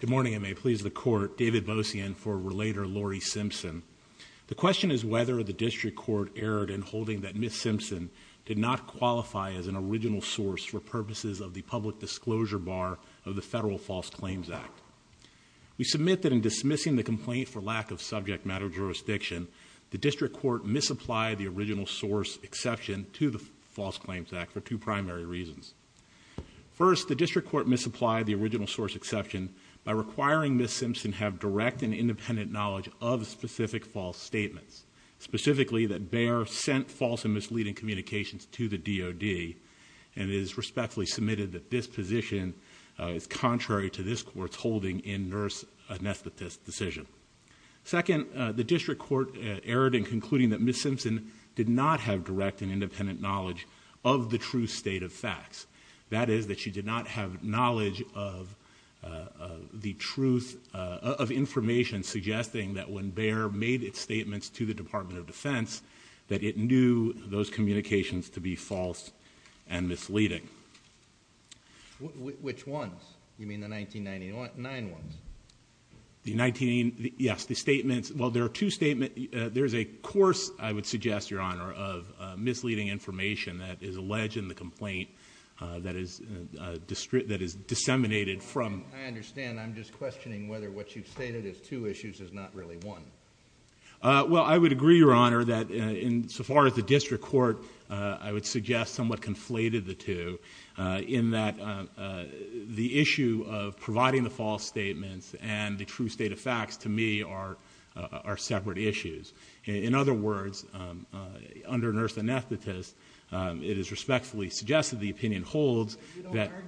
Good morning and may it please the court, David Bosian for Relator Lori Simpson. The question is whether the District Court erred in holding that Ms. Simpson did not qualify as an original source for purposes of the public disclosure bar of the Federal False Claims Act. We submit that in dismissing the complaint for lack of subject matter jurisdiction, the District Court misapplied the original source exception to the False Claims Act for two primary reasons. First, the District Court misapplied the original source exception by requiring Ms. Simpson have direct and independent knowledge of specific false statements, specifically that Bayer sent false and misleading communications to the DoD, and it is respectfully submitted that this position is contrary to this court's holding in nurse anesthetist decision. Second, the District Court erred in concluding that Ms. Simpson did not have direct and independent knowledge of the true state of facts. That is, that she did not have knowledge of the truth of information suggesting that when Bayer made its statements to the Department of Defense, that it knew those communications to be false and misleading. Which ones? You mean the 1999 ones? The 19, yes, the statements, well, there are two statements, there's a course, I would suggest, Your Honor, of misleading information that is alleged in the complaint that is, that is disseminated from. I understand, I'm just questioning whether what you've stated as two issues is not really one. Well, I would agree, Your Honor, that in so far as the District Court, I would suggest somewhat conflated the two, in that the issue of providing the false statements and the true state of facts, to me, are separate issues. In other words, under nurse anesthetist, it is respectfully suggested the opinion holds that... Correct,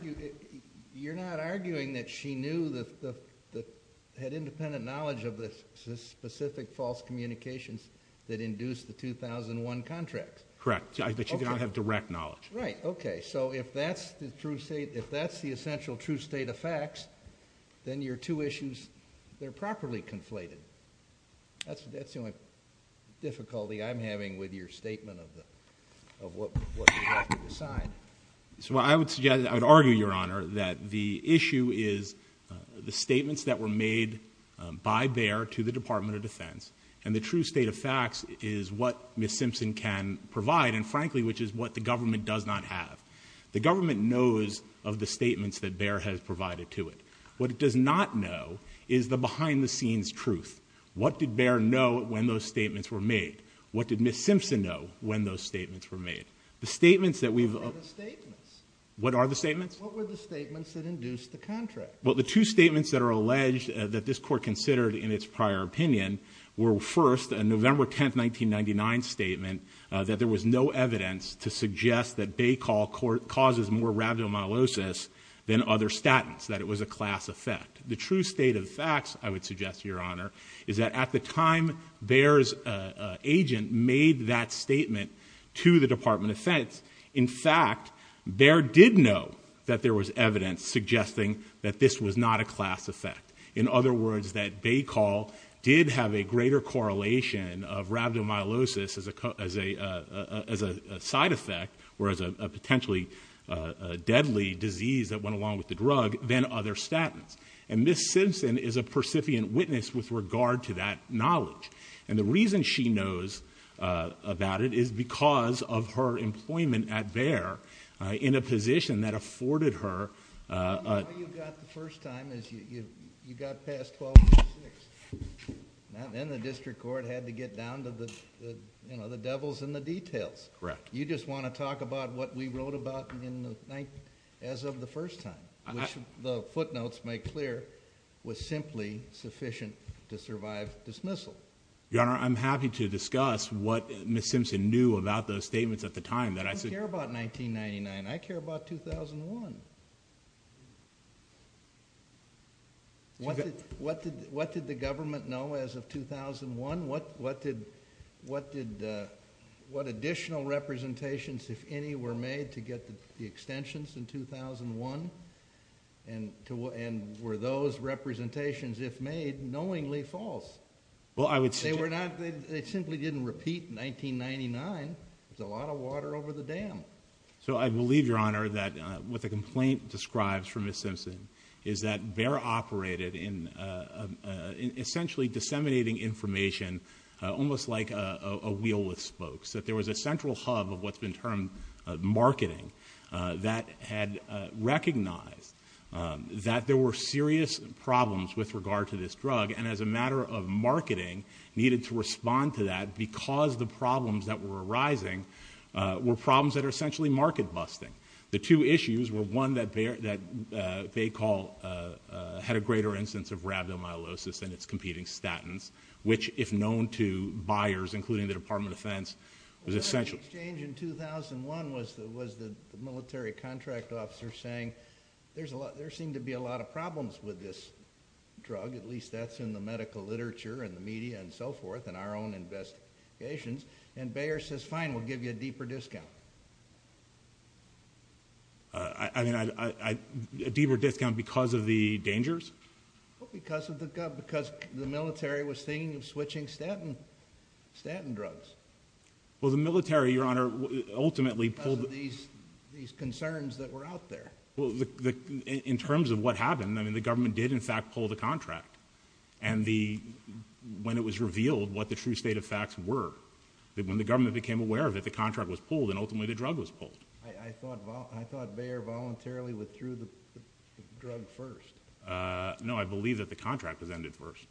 but you do not have direct knowledge. Right, okay, so if that's the true state, if that's the essential true state of facts, then your two issues, they're properly conflated. That's the only difficulty I'm having with your statement of what you have to decide. So I would suggest, I would argue, Your Honor, that the issue is the statements that were made by Baer to the Department of Defense, and the true state of facts is what Ms. Simpson can provide, and frankly, which is what the government does not have. The government knows of the statements that Baer has provided to it. What it does not know is the behind-the-scenes truth. What did Baer know when those statements were made? What did Ms. Simpson know when those statements were made? The statements that we've... What are the statements? What are the statements? What were the statements that induced the contract? Well, the two statements that are alleged that this court considered in its prior opinion were first a November 10, 1999 statement that there was no evidence to suggest that Bay Call causes more rhabdomyolysis than other statins, that it was a class effect. The true state of facts, I would suggest, Your Honor, is that at the time Baer's agent made that statement to the Department of Defense, in fact, Baer did know that there was evidence suggesting that this was not a class effect. In other words, that Bay Call did have a greater correlation of rhabdomyolysis as a side effect, or as a potentially deadly disease that went along with the drug, than other statins. And Ms. Simpson is a percipient witness with regard to that knowledge. And the reason she knows about it is because of her employment at Baer in a position that... Your Honor, the way you got the first time is you got past 12-6. Then the district court had to get down to the devils in the details. Correct. You just want to talk about what we wrote about as of the first time, which the footnotes make clear was simply sufficient to survive dismissal. Your Honor, I'm happy to discuss what Ms. Simpson knew about those statements at the time that I said... I don't care about 1999. I care about 2001. What did the government know as of 2001? What additional representations, if any, were made to get the extensions in 2001? And were those representations, if made, knowingly false? Well, I would... They were not... They simply didn't repeat 1999 with a lot of water over the dam. So I believe, Your Honor, that what the complaint describes for Ms. Simpson is that Baer operated in essentially disseminating information almost like a wheel with spokes. That there was a central hub of what's been termed marketing that had recognized that there were serious problems with regard to this drug, and as a matter of marketing, needed to respond to that because the problems that were arising were problems that are essentially market busting. The two issues were one that Baer... that Baer had a greater instance of rhabdomyolysis than its competing statins, which if known to buyers, including the Department of Defense, was essentially... The exchange in 2001 was the military contract officer saying there seemed to be a lot of problems with this drug, at least that's in the medical literature and the media and so forth and our own investigations, and Baer says, fine, we'll give you a deeper discount. I mean, a deeper discount because of the dangers? Because of the... because the military was thinking of switching statin drugs. Well, the military, Your Honor, ultimately... Because of these concerns that were out there. In terms of what happened, I mean, the government did in fact pull the contract, and the... when it was revealed what the true state of facts were, that when the government became aware of it, the contract was pulled and ultimately the drug was pulled. I thought Baer voluntarily withdrew the drug first. No, I believe that the contract was ended first.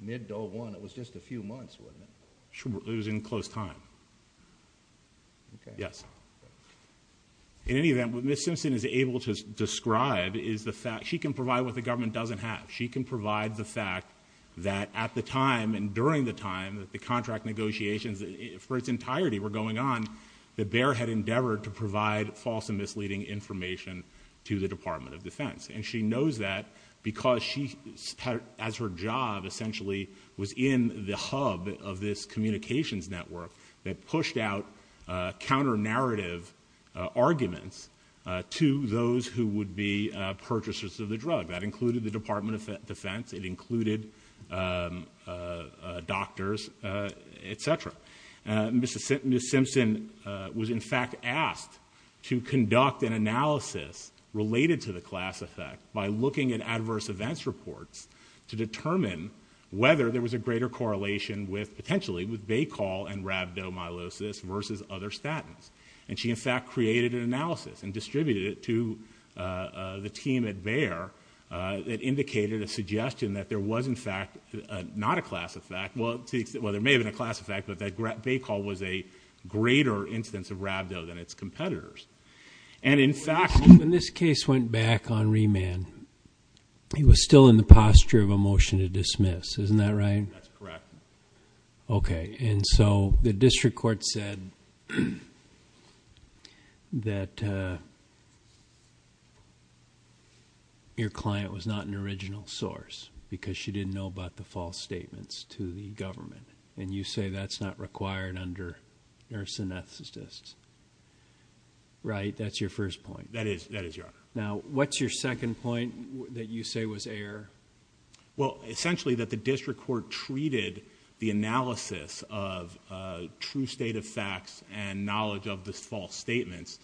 Mid-2001, it was just a few months, wasn't it? It was in close time. Okay. Yes. In any event, what Ms. Simpson is able to describe is the fact... she can provide what the government doesn't have. She can provide the fact that at the time and during the time that the contract negotiations for its entirety were going on, that Baer had endeavored to provide false and misleading information to the Department of Defense. And she knows that because she, as her job essentially, was in the hub of this communications network that pushed out counter-narrative arguments to those who would be purchasers of the drug. That included the Department of Defense, it included doctors, et cetera. Ms. Simpson was in fact asked to conduct an analysis related to the class effect by looking at adverse events reports to determine whether there was a greater correlation with, potentially, with Baycol and rhabdomyolysis versus other statins. And she in fact created an analysis and distributed it to the team at Baer that indicated a suggestion that there was in fact not a class effect... well, there may have been a class effect, but that Baycol was a greater instance of rhabdo than its competitors. And in fact... When this case went back on remand, he was still in the posture of a motion to dismiss, isn't that right? That's correct. Okay. And so, the district court said that your client was not an original source because she didn't know about the false statements to the government, and you say that's not required under nurse anesthetists, right? That's your first point. That is. That is your argument. Now, what's your second point that you say was error? Well, essentially that the district court treated the analysis of true state of facts and knowledge of the false statements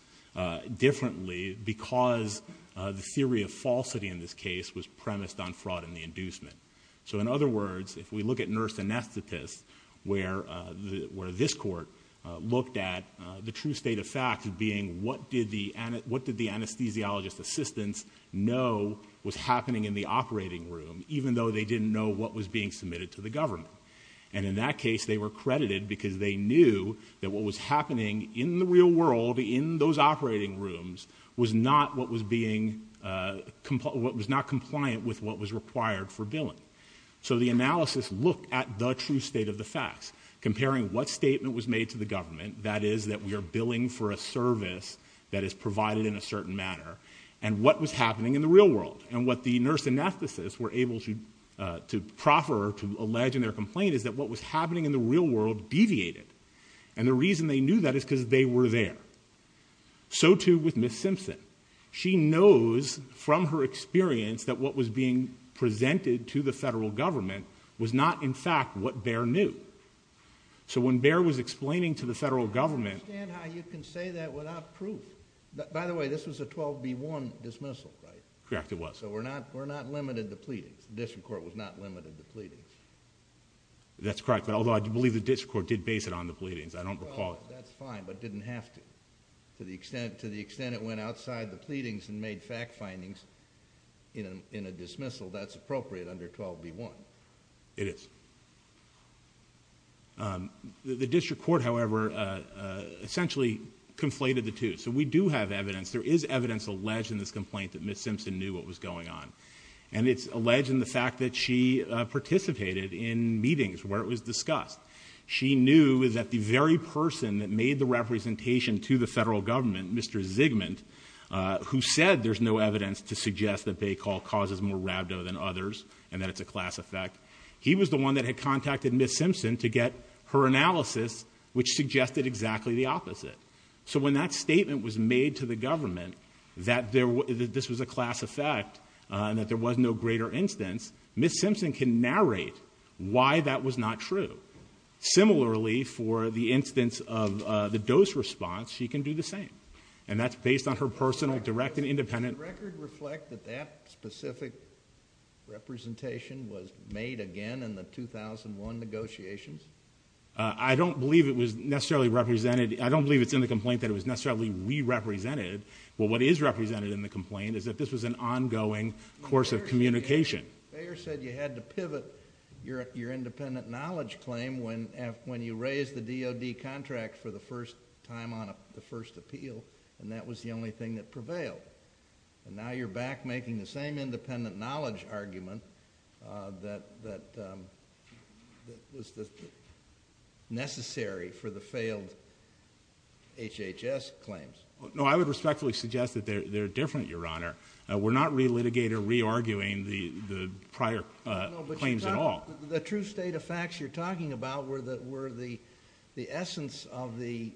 differently because the theory of falsity in this case was premised on fraud and the inducement. So in other words, if we look at nurse anesthetists where this court looked at the true state of facts being what did the anesthesiologist assistants know was happening in the operating room, even though they didn't know what was being submitted to the government? And in that case, they were credited because they knew that what was happening in the real world in those operating rooms was not what was being... was not compliant with what was required for billing. So the analysis looked at the true state of the facts, comparing what statement was made to the government, that is that we are billing for a service that is provided in a certain manner, and what was happening in the real world. And what the nurse anesthetists were able to proffer or to allege in their complaint is that what was happening in the real world deviated. And the reason they knew that is because they were there. So too with Ms. Simpson. She knows from her experience that what was being presented to the federal government was not in fact what Bayer knew. So when Bayer was explaining to the federal government... I don't understand how you can say that without proof. By the way, this was a 12B1 dismissal, right? Correct, it was. So we're not limited to pleadings. The district court was not limited to pleadings. That's correct. Although I do believe the district court did base it on the pleadings. I don't recall... Well, that's fine, but it didn't have to. To the extent it went outside the pleadings and made fact findings in a dismissal, that's appropriate under 12B1. It is. The district court, however, essentially conflated the two. So we do have evidence. There is evidence alleged in this complaint that Ms. Simpson knew what was going on. And it's alleged in the fact that she participated in meetings where it was discussed. She knew that the very person that made the representation to the federal government, Mr. Zygmunt, who said there's no evidence to suggest that Bay Coll causes more rhabdo than others and that it's a class effect, he was the one that had contacted Ms. Simpson to get her analysis, which suggested exactly the opposite. So when that statement was made to the government that this was a class effect and that there was no greater instance, Ms. Simpson can narrate why that was not true. Similarly, for the instance of the dose response, she can do the same. And that's based on her personal direct and independent... Does the record reflect that that specific representation was made again in the 2001 negotiations? I don't believe it was necessarily represented. I don't believe it's in the complaint that it was necessarily re-represented. Well, what is represented in the complaint is that this was an ongoing course of communication. Bayer said you had to pivot your independent knowledge claim when you raised the DOD contract for the first time on the first appeal and that was the only thing that prevailed. And now you're back making the same independent knowledge argument that was necessary for the failed HHS claims. No, I would respectfully suggest that they're different, Your Honor. We're not re-litigating or re-arguing the prior claims at all. No, but the true state of facts you're talking about were the essence of the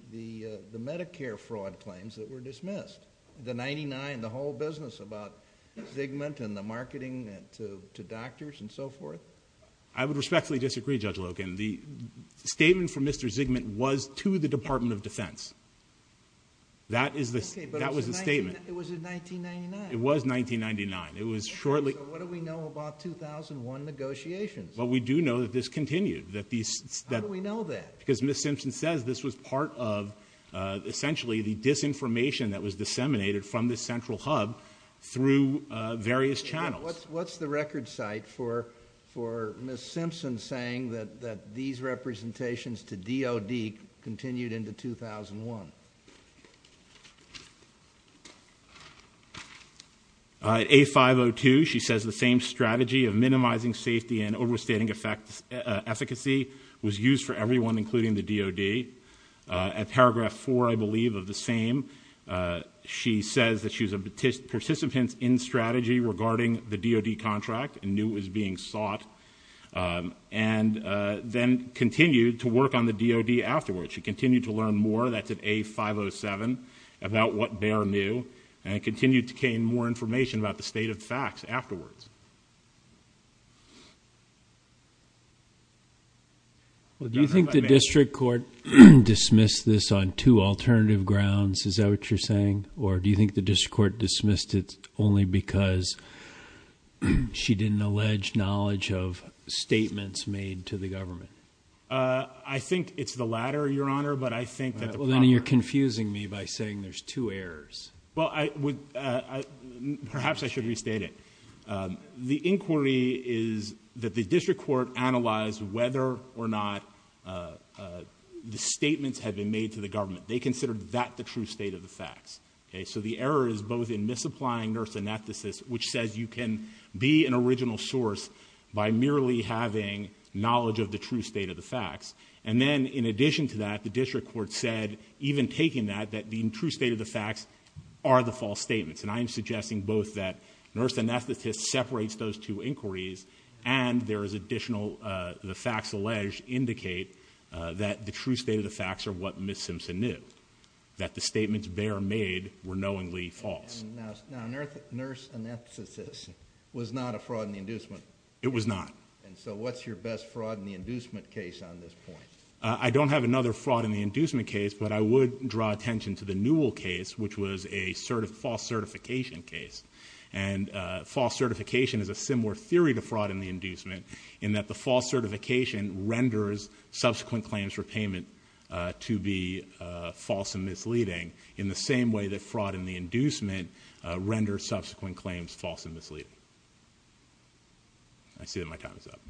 Medicare fraud claims that were dismissed. The 99, the whole business about Zygmunt and the marketing to doctors and so forth? I would respectfully disagree, Judge Logan. The statement from Mr. Zygmunt was to the Department of Defense. That was the statement. Okay, but it was in 1999. It was 1999. It was shortly... Okay, so what do we know about 2001 negotiations? Well, we do know that this continued. How do we know that? Because Ms. Simpson says this was part of, essentially, the disinformation that was disseminated from this central hub through various channels. What's the record site for Ms. Simpson saying that these representations to DOD continued into 2001? A502, she says the same strategy of minimizing safety and overstating efficacy was used for everyone, including the DOD. At paragraph 4, I believe, of the same, she says that she was a participant in strategy regarding the DOD contract and knew it was being sought and then continued to work on the DOD afterwards. She continued to learn more. That's at A507 about what Bayer knew and continued to gain more information about the state of the facts afterwards. Well, do you think the district court dismissed this on two alternative grounds? Is that what you're saying? Or do you think the district court dismissed it only because she didn't allege knowledge of statements made to the government? I think it's the latter, Your Honor, but I think that... Well, then you're confusing me by saying there's two errors. Well, perhaps I should restate it. The inquiry is that the district court analyzed whether or not the statements had been made to the government. They considered that the true state of the facts. So the error is both in misapplying nurse synapticists, which says you can be an original source by merely having knowledge of the true state of the facts. And then, in addition to that, the district court said, even taking that, that the true state of the facts are the false statements. And I am suggesting both that nurse synapticists separates those two inquiries and there is additional... the facts alleged indicate that the true state of the facts are what Ms. Simpson knew, that the statements Bayer made were knowingly false. Now, nurse synapticists was not a fraud in the inducement? It was not. And so what's your best fraud in the inducement case on this point? I don't have another fraud in the inducement case, but I would draw attention to the Newell case, which was a false certification case. And false certification is a similar theory to fraud in the inducement in that the false certification renders subsequent claims for payment to be false and misleading in the same way that fraud in the inducement renders subsequent claims false and misleading. I see that my time is up.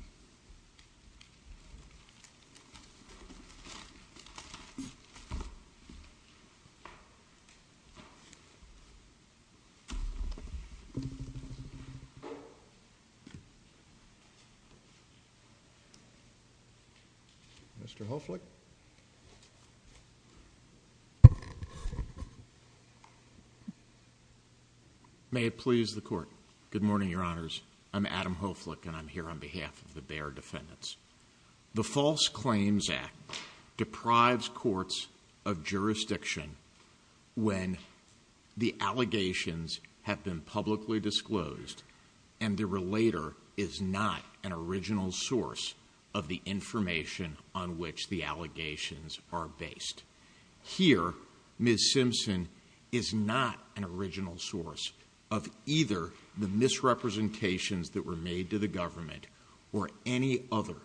Thank you. Mr. Hoflich. May it please the Court. Good morning, Your Honors. I'm Adam Hoflich, and I'm here on behalf of the Bayer defendants. The False Claims Act deprives courts of jurisdiction when the allegations have been publicly disclosed and the relator is not an original source of the information on which the allegations are based. Here, Ms. Simpson is not an original source of either the misrepresentations that were made to the government or any other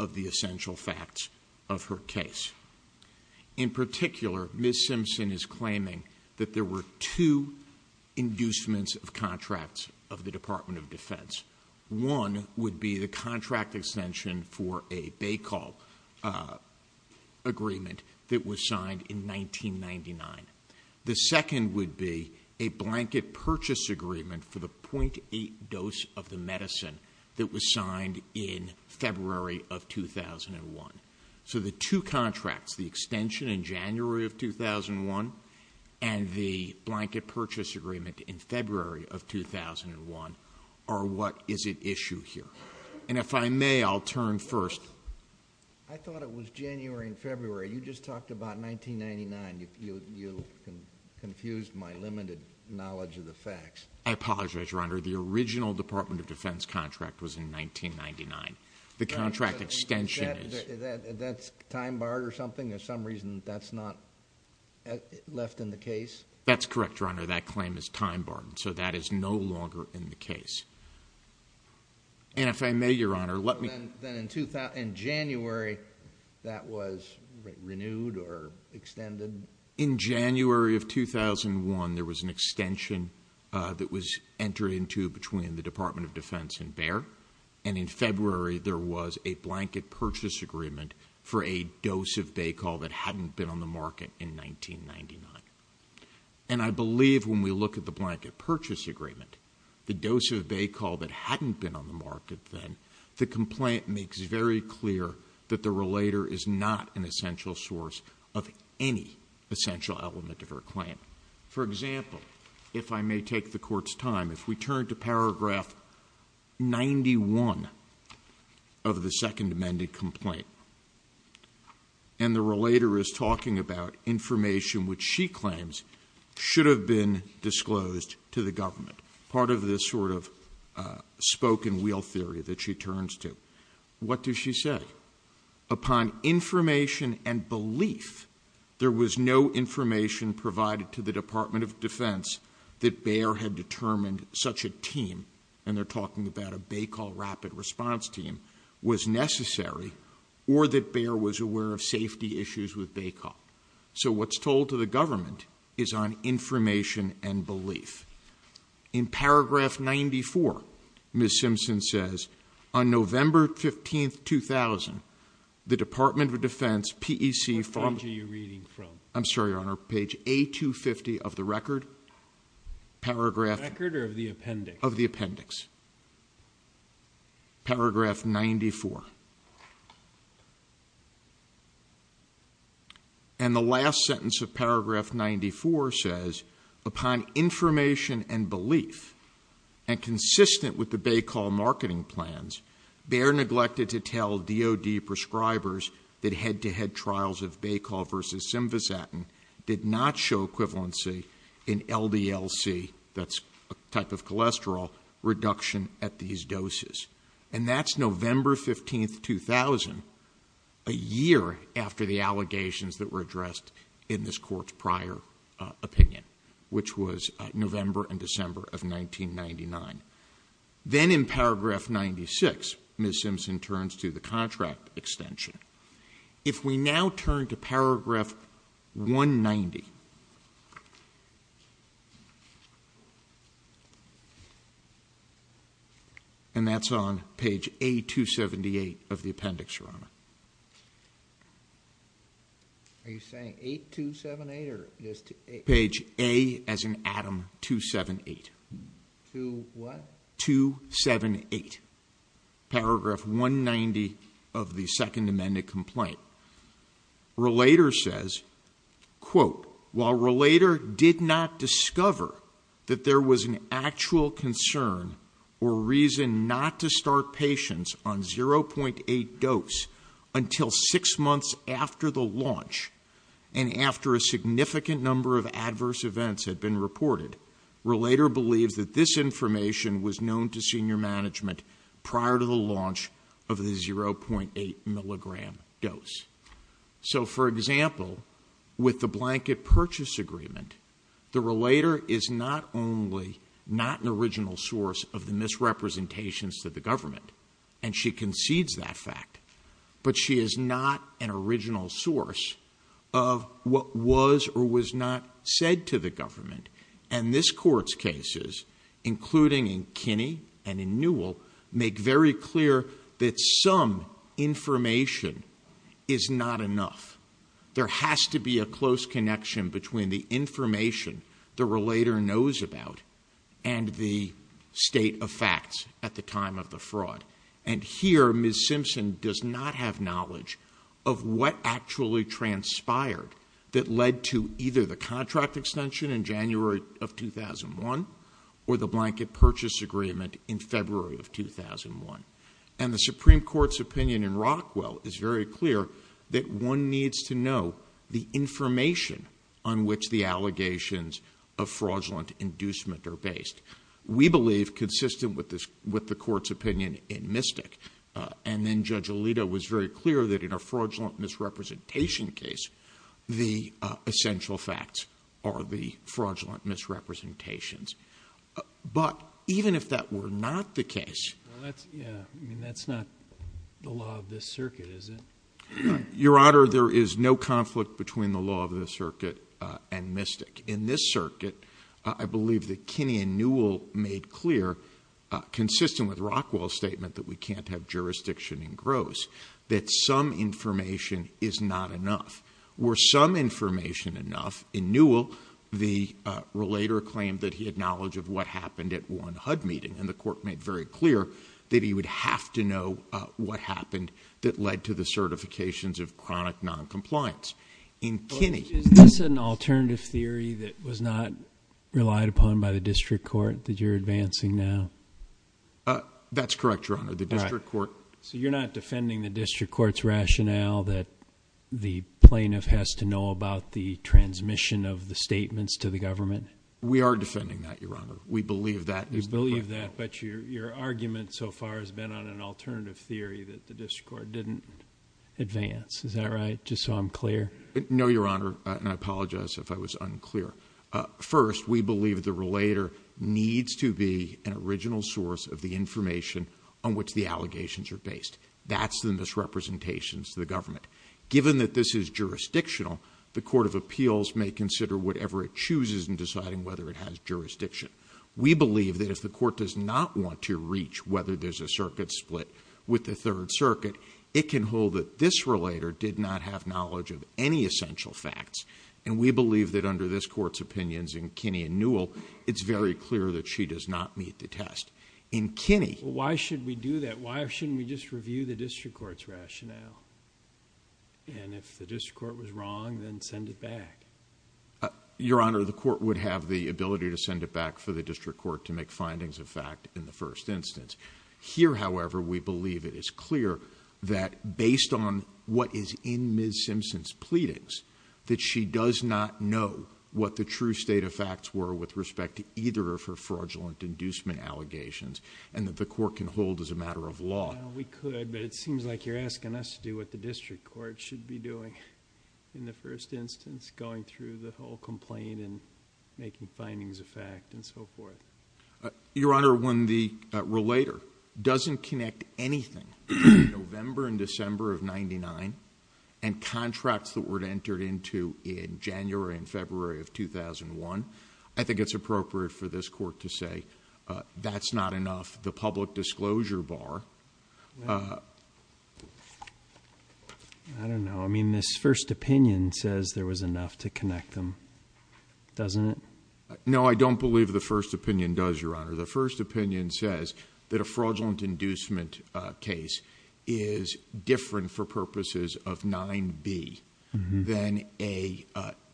of the essential facts of her case. In particular, Ms. Simpson is claiming that there were two inducements of contracts of the Department of Defense. One would be the contract extension for a Baycall agreement that was signed in 1999. The second would be a blanket purchase agreement for the .8 dose of the medicine that was signed in February of 2001. So the two contracts, the extension in January of 2001 and the blanket purchase agreement in February of 2001, are what is at issue here. And if I may, I'll turn first. I thought it was January and February. You just talked about 1999. You confused my limited knowledge of the facts. I apologize, Your Honor. The original Department of Defense contract was in 1999. The contract extension is... That's time barred or something? There's some reason that's not left in the case? That's correct, Your Honor. That claim is time barred. So that is no longer in the case. And if I may, Your Honor, let me... Then in January, that was renewed or extended? In January of 2001, there was an extension that was entered into between the Department of Defense and Bayer. And in February, there was a blanket purchase agreement for a dose of Baycol that hadn't been on the market in 1999. And I believe when we look at the blanket purchase agreement, the dose of Baycol that hadn't been on the market then, the complaint makes very clear that the relator is not an essential source of any essential element of her claim. For example, if I may take the Court's time, if we turn to paragraph 91 of the second amended complaint, and the relator is talking about information which she claims should have been disclosed to the government, part of this sort of spoke-and-wheel theory that she turns to, what does she say? Upon information and belief, there was no information provided to the Department of Defense that Bayer had determined such a team, and they're talking about a Baycol Rapid Response Team, was necessary or that Bayer was aware of safety issues with Baycol. So what's told to the government is on information and belief. In paragraph 94, Ms. Simpson says, on November 15, 2000, the Department of Defense, PEC... I'm sorry, Your Honor, page A250 of the record, paragraph... of the appendix. Paragraph 94. And the last sentence of paragraph 94 says, upon information and belief, and consistent with the Baycol marketing plans, Bayer neglected to tell DOD prescribers that head-to-head trials of Baycol versus Simvazatin did not show equivalency in LDL-C, that's a type of cholesterol, reduction at these doses. And that's November 15, 2000, a year after the allegations that were addressed in this court's prior opinion, which was November and December of 1999. Then in paragraph 96, Ms. Simpson turns to the contract extension. If we now turn to paragraph 190, and that's on page A278 of the appendix, Your Honor. Are you saying 8278 or... Page A, as in Adam, 278. 278. Paragraph 190 of the second amended complaint. Relator says, quote, while Relator did not discover that there was an actual concern or reason not to start patients on 0.8 dose until six months after the launch, and after a significant number of adverse events had been reported, Relator believes that this information was known to senior management prior to the launch of the 0.8 milligram dose. So, for example, with the blanket purchase agreement, the Relator is not only not an original source of the misrepresentations to the government, and she concedes that fact, but she is not an original source of what was or was not said to the government, and this court's cases, including Kinney and in Newell, make very clear that some information is not enough. There has to be a close connection between the information the Relator knows about and the state of facts at the time of the fraud, and here Ms. Simpson does not have knowledge of what actually transpired that led to either the contract extension in January of 2001 or the blanket purchase agreement in February of 2001, and the Supreme Court's opinion in Rockwell is very clear that one needs to know the information on which the allegations of fraudulent inducement are based. We believe, consistent with the Court's opinion in Mystic, and then Judge Alito was very clear that in a fraudulent misrepresentation case, the essential facts are the but even if that were not the case that's not the law of this circuit, is it? Your Honor, there is no conflict between the law of the circuit and Mystic. In this circuit, I believe that Kinney and Newell made clear, consistent with Rockwell's statement that we can't have jurisdiction in Gross, that some information is not enough. Were some information enough, in Newell, the knowledge of what happened at one HUD meeting and the Court made very clear that he would have to know what happened that led to the certifications of chronic noncompliance. Is this an alternative theory that was not relied upon by the District Court that you're advancing now? That's correct, Your Honor. The District Court So you're not defending the District Court's rationale that the plaintiff has to know about the transmission of the statements to the plaintiff? No, Your Honor. We believe that You believe that, but your argument so far has been on an alternative theory that the District Court didn't advance. Is that right? Just so I'm clear? No, Your Honor, and I apologize if I was unclear. First, we believe the relator needs to be an original source of the information on which the allegations are based. That's the misrepresentations to the government. Given that this is jurisdictional, the Court of Appeals may consider whatever it chooses in deciding whether it has jurisdiction. We believe that if the Court does not want to reach whether there's a circuit split with the Third Circuit, it can hold that this relator did not have knowledge of any essential facts, and we believe that under this Court's opinions in Kinney and Newell, it's very clear that she does not meet the test. In Kinney... Why should we do that? Why shouldn't we just review the District Court's rationale? And if the District Court was wrong, then send it back. Your Honor, the Court would have the ability to send it back for the District Court to make findings of fact in the first instance. Here, however, we believe it is clear that based on what is in Ms. Simpson's pleadings, that she does not know what the true state of facts were with respect to either of her fraudulent inducement allegations, and that the Court can hold as a matter of law. We could, but it seems like you're asking us to do what the District Court should be doing in the first instance, going through the whole complaint and making findings of fact and so forth. Your Honor, when the relator doesn't connect anything between November and December of 1999 and contracts that were entered into in January and February of 2001, I think it's appropriate for this Court to say that's not enough. The public disclosure bar... I don't know. I mean, this first opinion says there was enough to connect them. Doesn't it? No, I don't believe the first opinion does, Your Honor. The first opinion says that a fraudulent inducement case is different for purposes of 9b than a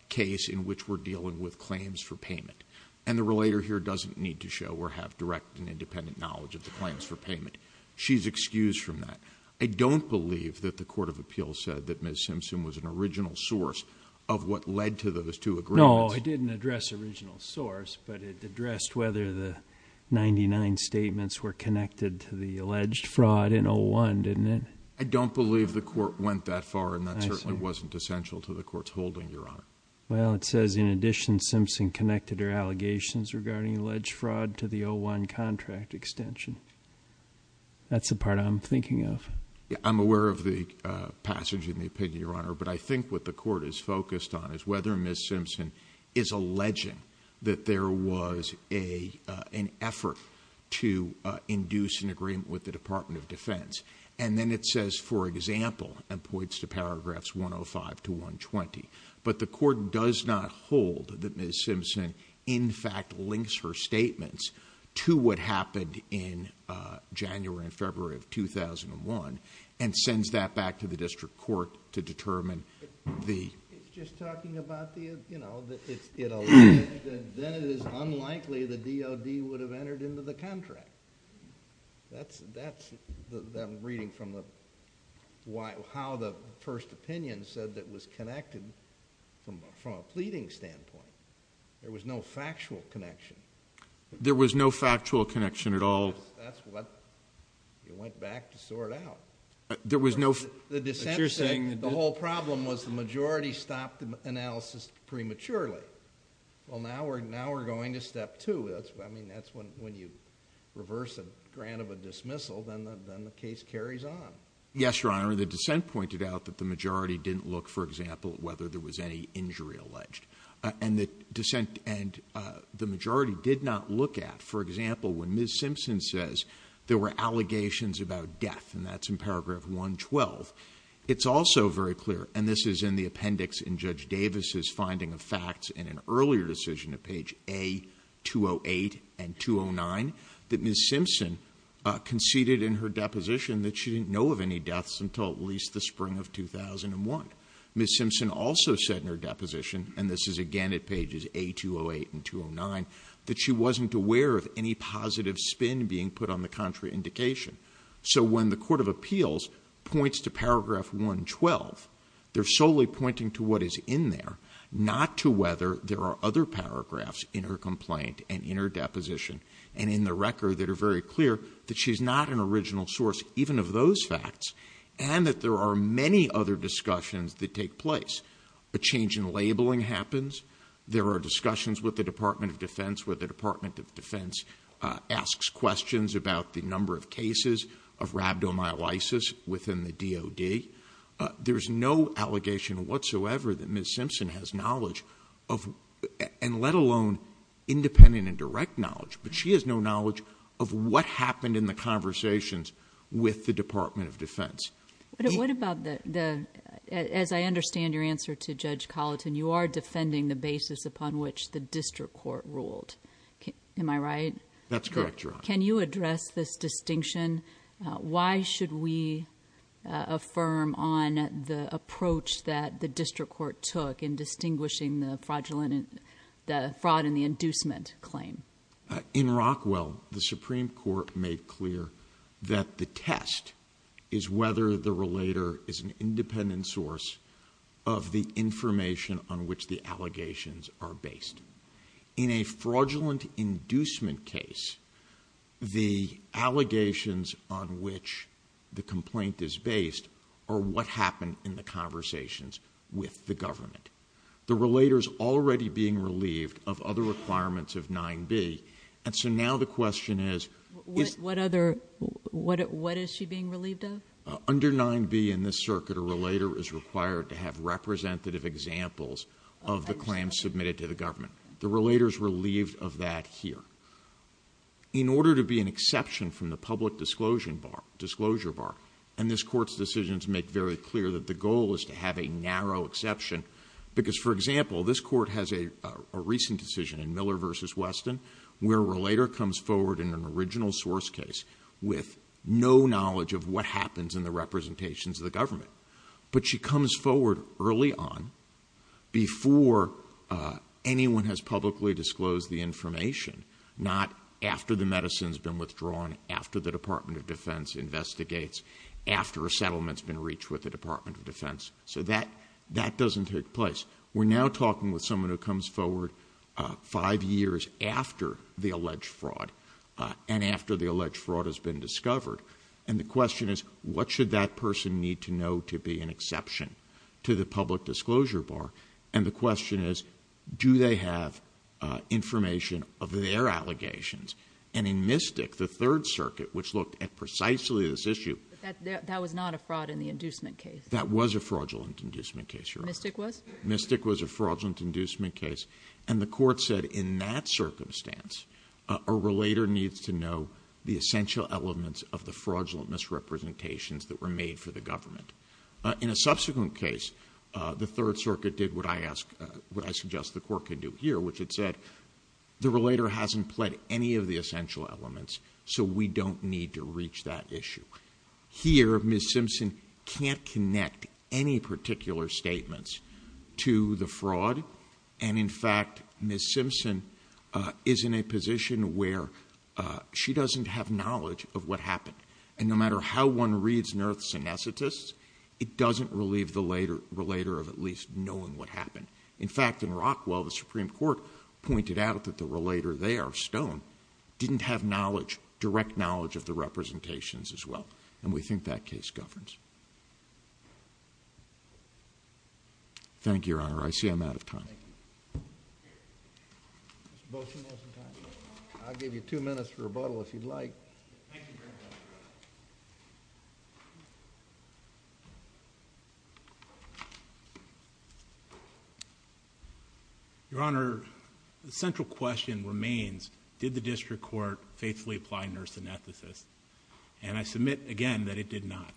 case in which we're dealing with claims for payment. And the relator here doesn't need to show or have direct and independent knowledge of the claims for payment. She's excused from that. I don't believe that the Court of Appeals said that Ms. Simpson was an original source of what led to those two agreements. No, it didn't address the original source, but it addressed whether the 99 statements were connected to the alleged fraud in 01, didn't it? I don't believe the Court went that far and that certainly wasn't essential to the Court's holding, Your Honor. Well, it says in addition Simpson connected her allegations regarding alleged fraud to the 01 contract extension. That's the part I'm thinking of. I'm aware of the passage of the opinion, Your Honor, but I think what the Court is focused on is whether Ms. Simpson is alleging that there was an effort to induce an agreement with the Department of Defense. And then it says, for example, and points to paragraphs 105 to 120, but the Court does not hold that Ms. Simpson in fact links her statements to what happened in January and February of 2001 and sends that back to the District Court to determine the... It's just talking about the you know, it's alleged that then it is unlikely the DOD would have entered into the contract. That's what I'm reading from how the first opinion said that was connected from a pleading standpoint. There was no factual connection. There was no factual connection at all. You went back to sort out. There was no... The whole problem was the majority stopped analysis prematurely. Well, now we're going to step two. That's when you reverse a grant of a dismissal, then the case carries on. Yes, Your Honor. The dissent pointed out that the majority didn't look, for example, at whether there was any injury alleged. And the majority did not look at, for example, when Ms. Simpson says there were allegations about death, and that's in paragraph 112. It's also very clear, and this is in the appendix in Judge Davis' finding of facts in an earlier decision at page A-208 and 209, that Ms. Simpson conceded in her deposition that she didn't know of any deaths until at least the spring of 2001. Ms. Simpson also said in her deposition, and this is again at pages A-208 and 209, that she wasn't aware of any positive spin being put on the contraindication. So when the Court of Appeals points to paragraph 112, they're solely pointing to what is in there, not to whether there are other paragraphs in her complaint and in her deposition and in the record that are very clear that she's not an original source even of those facts, and that there are many other discussions that take place. A change in labeling happens. There are discussions with the Department of Defense where the Department of Defense asks questions about the number of cases of rhabdomyolysis within the DOD. There's no allegation whatsoever that Ms. Simpson has knowledge of, and let alone independent and direct knowledge, but she has no knowledge of what happened in the conversations with the Department of Defense. What about the... As I understand your answer to Judge Colleton, you are defending the basis upon which the district court ruled. Am I right? That's correct, Your Honor. Can you address this distinction? Why should we affirm on the approach that the district court took in distinguishing the fraud and the inducement claim? In Rockwell, the Supreme Court made clear that the test is whether the relator is an independent source of the information on which the allegations are based. In a fraudulent inducement case, the allegations on which the complaint is based are what happened in the conversations with the government. The relator is already being relieved of other requirements of 9B, and so now the question is... What other... Under 9B in this circuit, a relator is required to have representative examples of the claims submitted to the government. The relator is relieved of that here. In order to be an exception from the public disclosure bar, and this Court's decisions make very clear that the goal is to have a narrow exception, because for example, this Court has a recent decision in Miller v. Weston where a relator comes forward in an original source case with no knowledge of what happens in the representations of the government. But she comes forward early on before anyone has publicly disclosed the information, not after the medicine's been withdrawn, after the Department of Defense investigates, after a settlement's been reached with the Department of Defense. That doesn't take place. We're now talking with someone who comes forward five years after the alleged fraud, and after the alleged fraud has been discovered. And the question is, what should that person need to know to be an exception to the public disclosure bar? And the question is, do they have information of their allegations? And in Mystic, the Third Circuit, which looked at precisely this issue... But that was not a fraud in the inducement case. That was a fraudulent inducement case, Your Honor. Mystic was? Mystic was a fraudulent inducement case. And the Court said in that case, the relator needs to know the essential elements of the fraudulent misrepresentations that were made for the government. In a subsequent case, the Third Circuit did what I suggest the Court could do here, which is that the relator hasn't pled any of the essential elements, so we don't need to reach that issue. Here, Ms. Simpson can't connect any particular statements to the fraud. And in fact, Ms. Simpson is in a position where she doesn't have knowledge of what happened. And no matter how one reads NERF's synesthetists, it doesn't relieve the relator of at least knowing what happened. In fact, in Rockwell, the Supreme Court pointed out that the relator there, Stone, didn't have direct knowledge of the representations as well. And we think that case governs. Thank you, Your Honor. I see I'm out of time. I'll give you two minutes for rebuttal if you'd like. Your Honor, the central question remains, did the District Court faithfully apply NERF's synesthetists? And I submit again that it did not.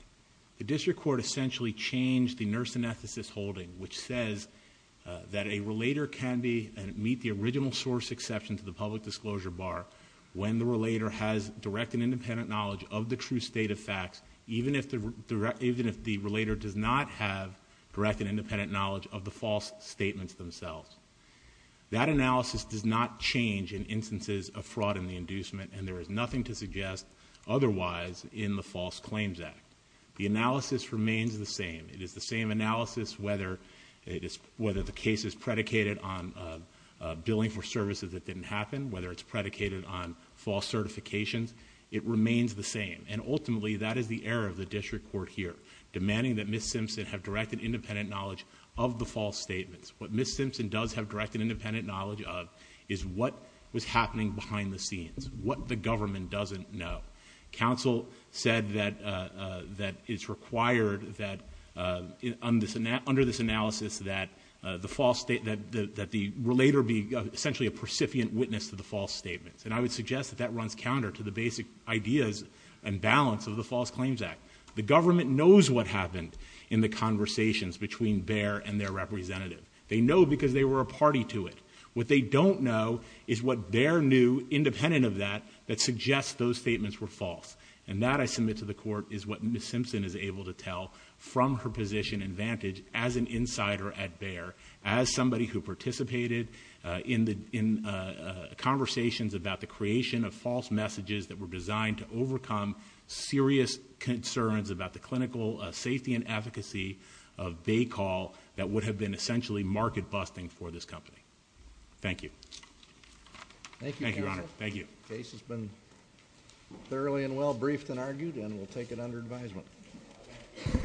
The District Court essentially changed the NERF's synesthetists holding, which says that a relator can meet the original source exception to the public disclosure bar when the relator has direct and independent knowledge of the true state of facts, even if the relator does not have direct and independent knowledge of the false statements themselves. That analysis does not change in instances of fraud and the inducement, and there is nothing to suggest otherwise in the False Claims Act. The analysis remains the same. It is the same analysis whether the case is predicated on billing for services that didn't happen, whether it's predicated on false certifications, it remains the same. And ultimately, that is the error of the District Court here, demanding that Ms. Simpson have direct and independent knowledge of the false statements. What Ms. Simpson does have direct and independent knowledge of is what was happening behind the scenes, what the government doesn't know. Counsel said that it's required that under this analysis that the relator be essentially a percipient witness to the false statements. And I would suggest that that runs counter to the basic ideas and balance of the False Claims Act. The government knows what happened in the conversations between Behr and their representative. They know because they were a party to it. What they don't know is what Behr knew, independent of that, that suggests those statements were false. And that, I submit to the Court, is what gives our position advantage as an insider at Behr, as somebody who participated in conversations about the creation of false messages that were designed to overcome serious concerns about the clinical safety and advocacy of Baycall that would have been essentially market-busting for this company. Thank you. Thank you, Counsel. The case has been thoroughly and well briefed and argued, and we'll take it as it comes.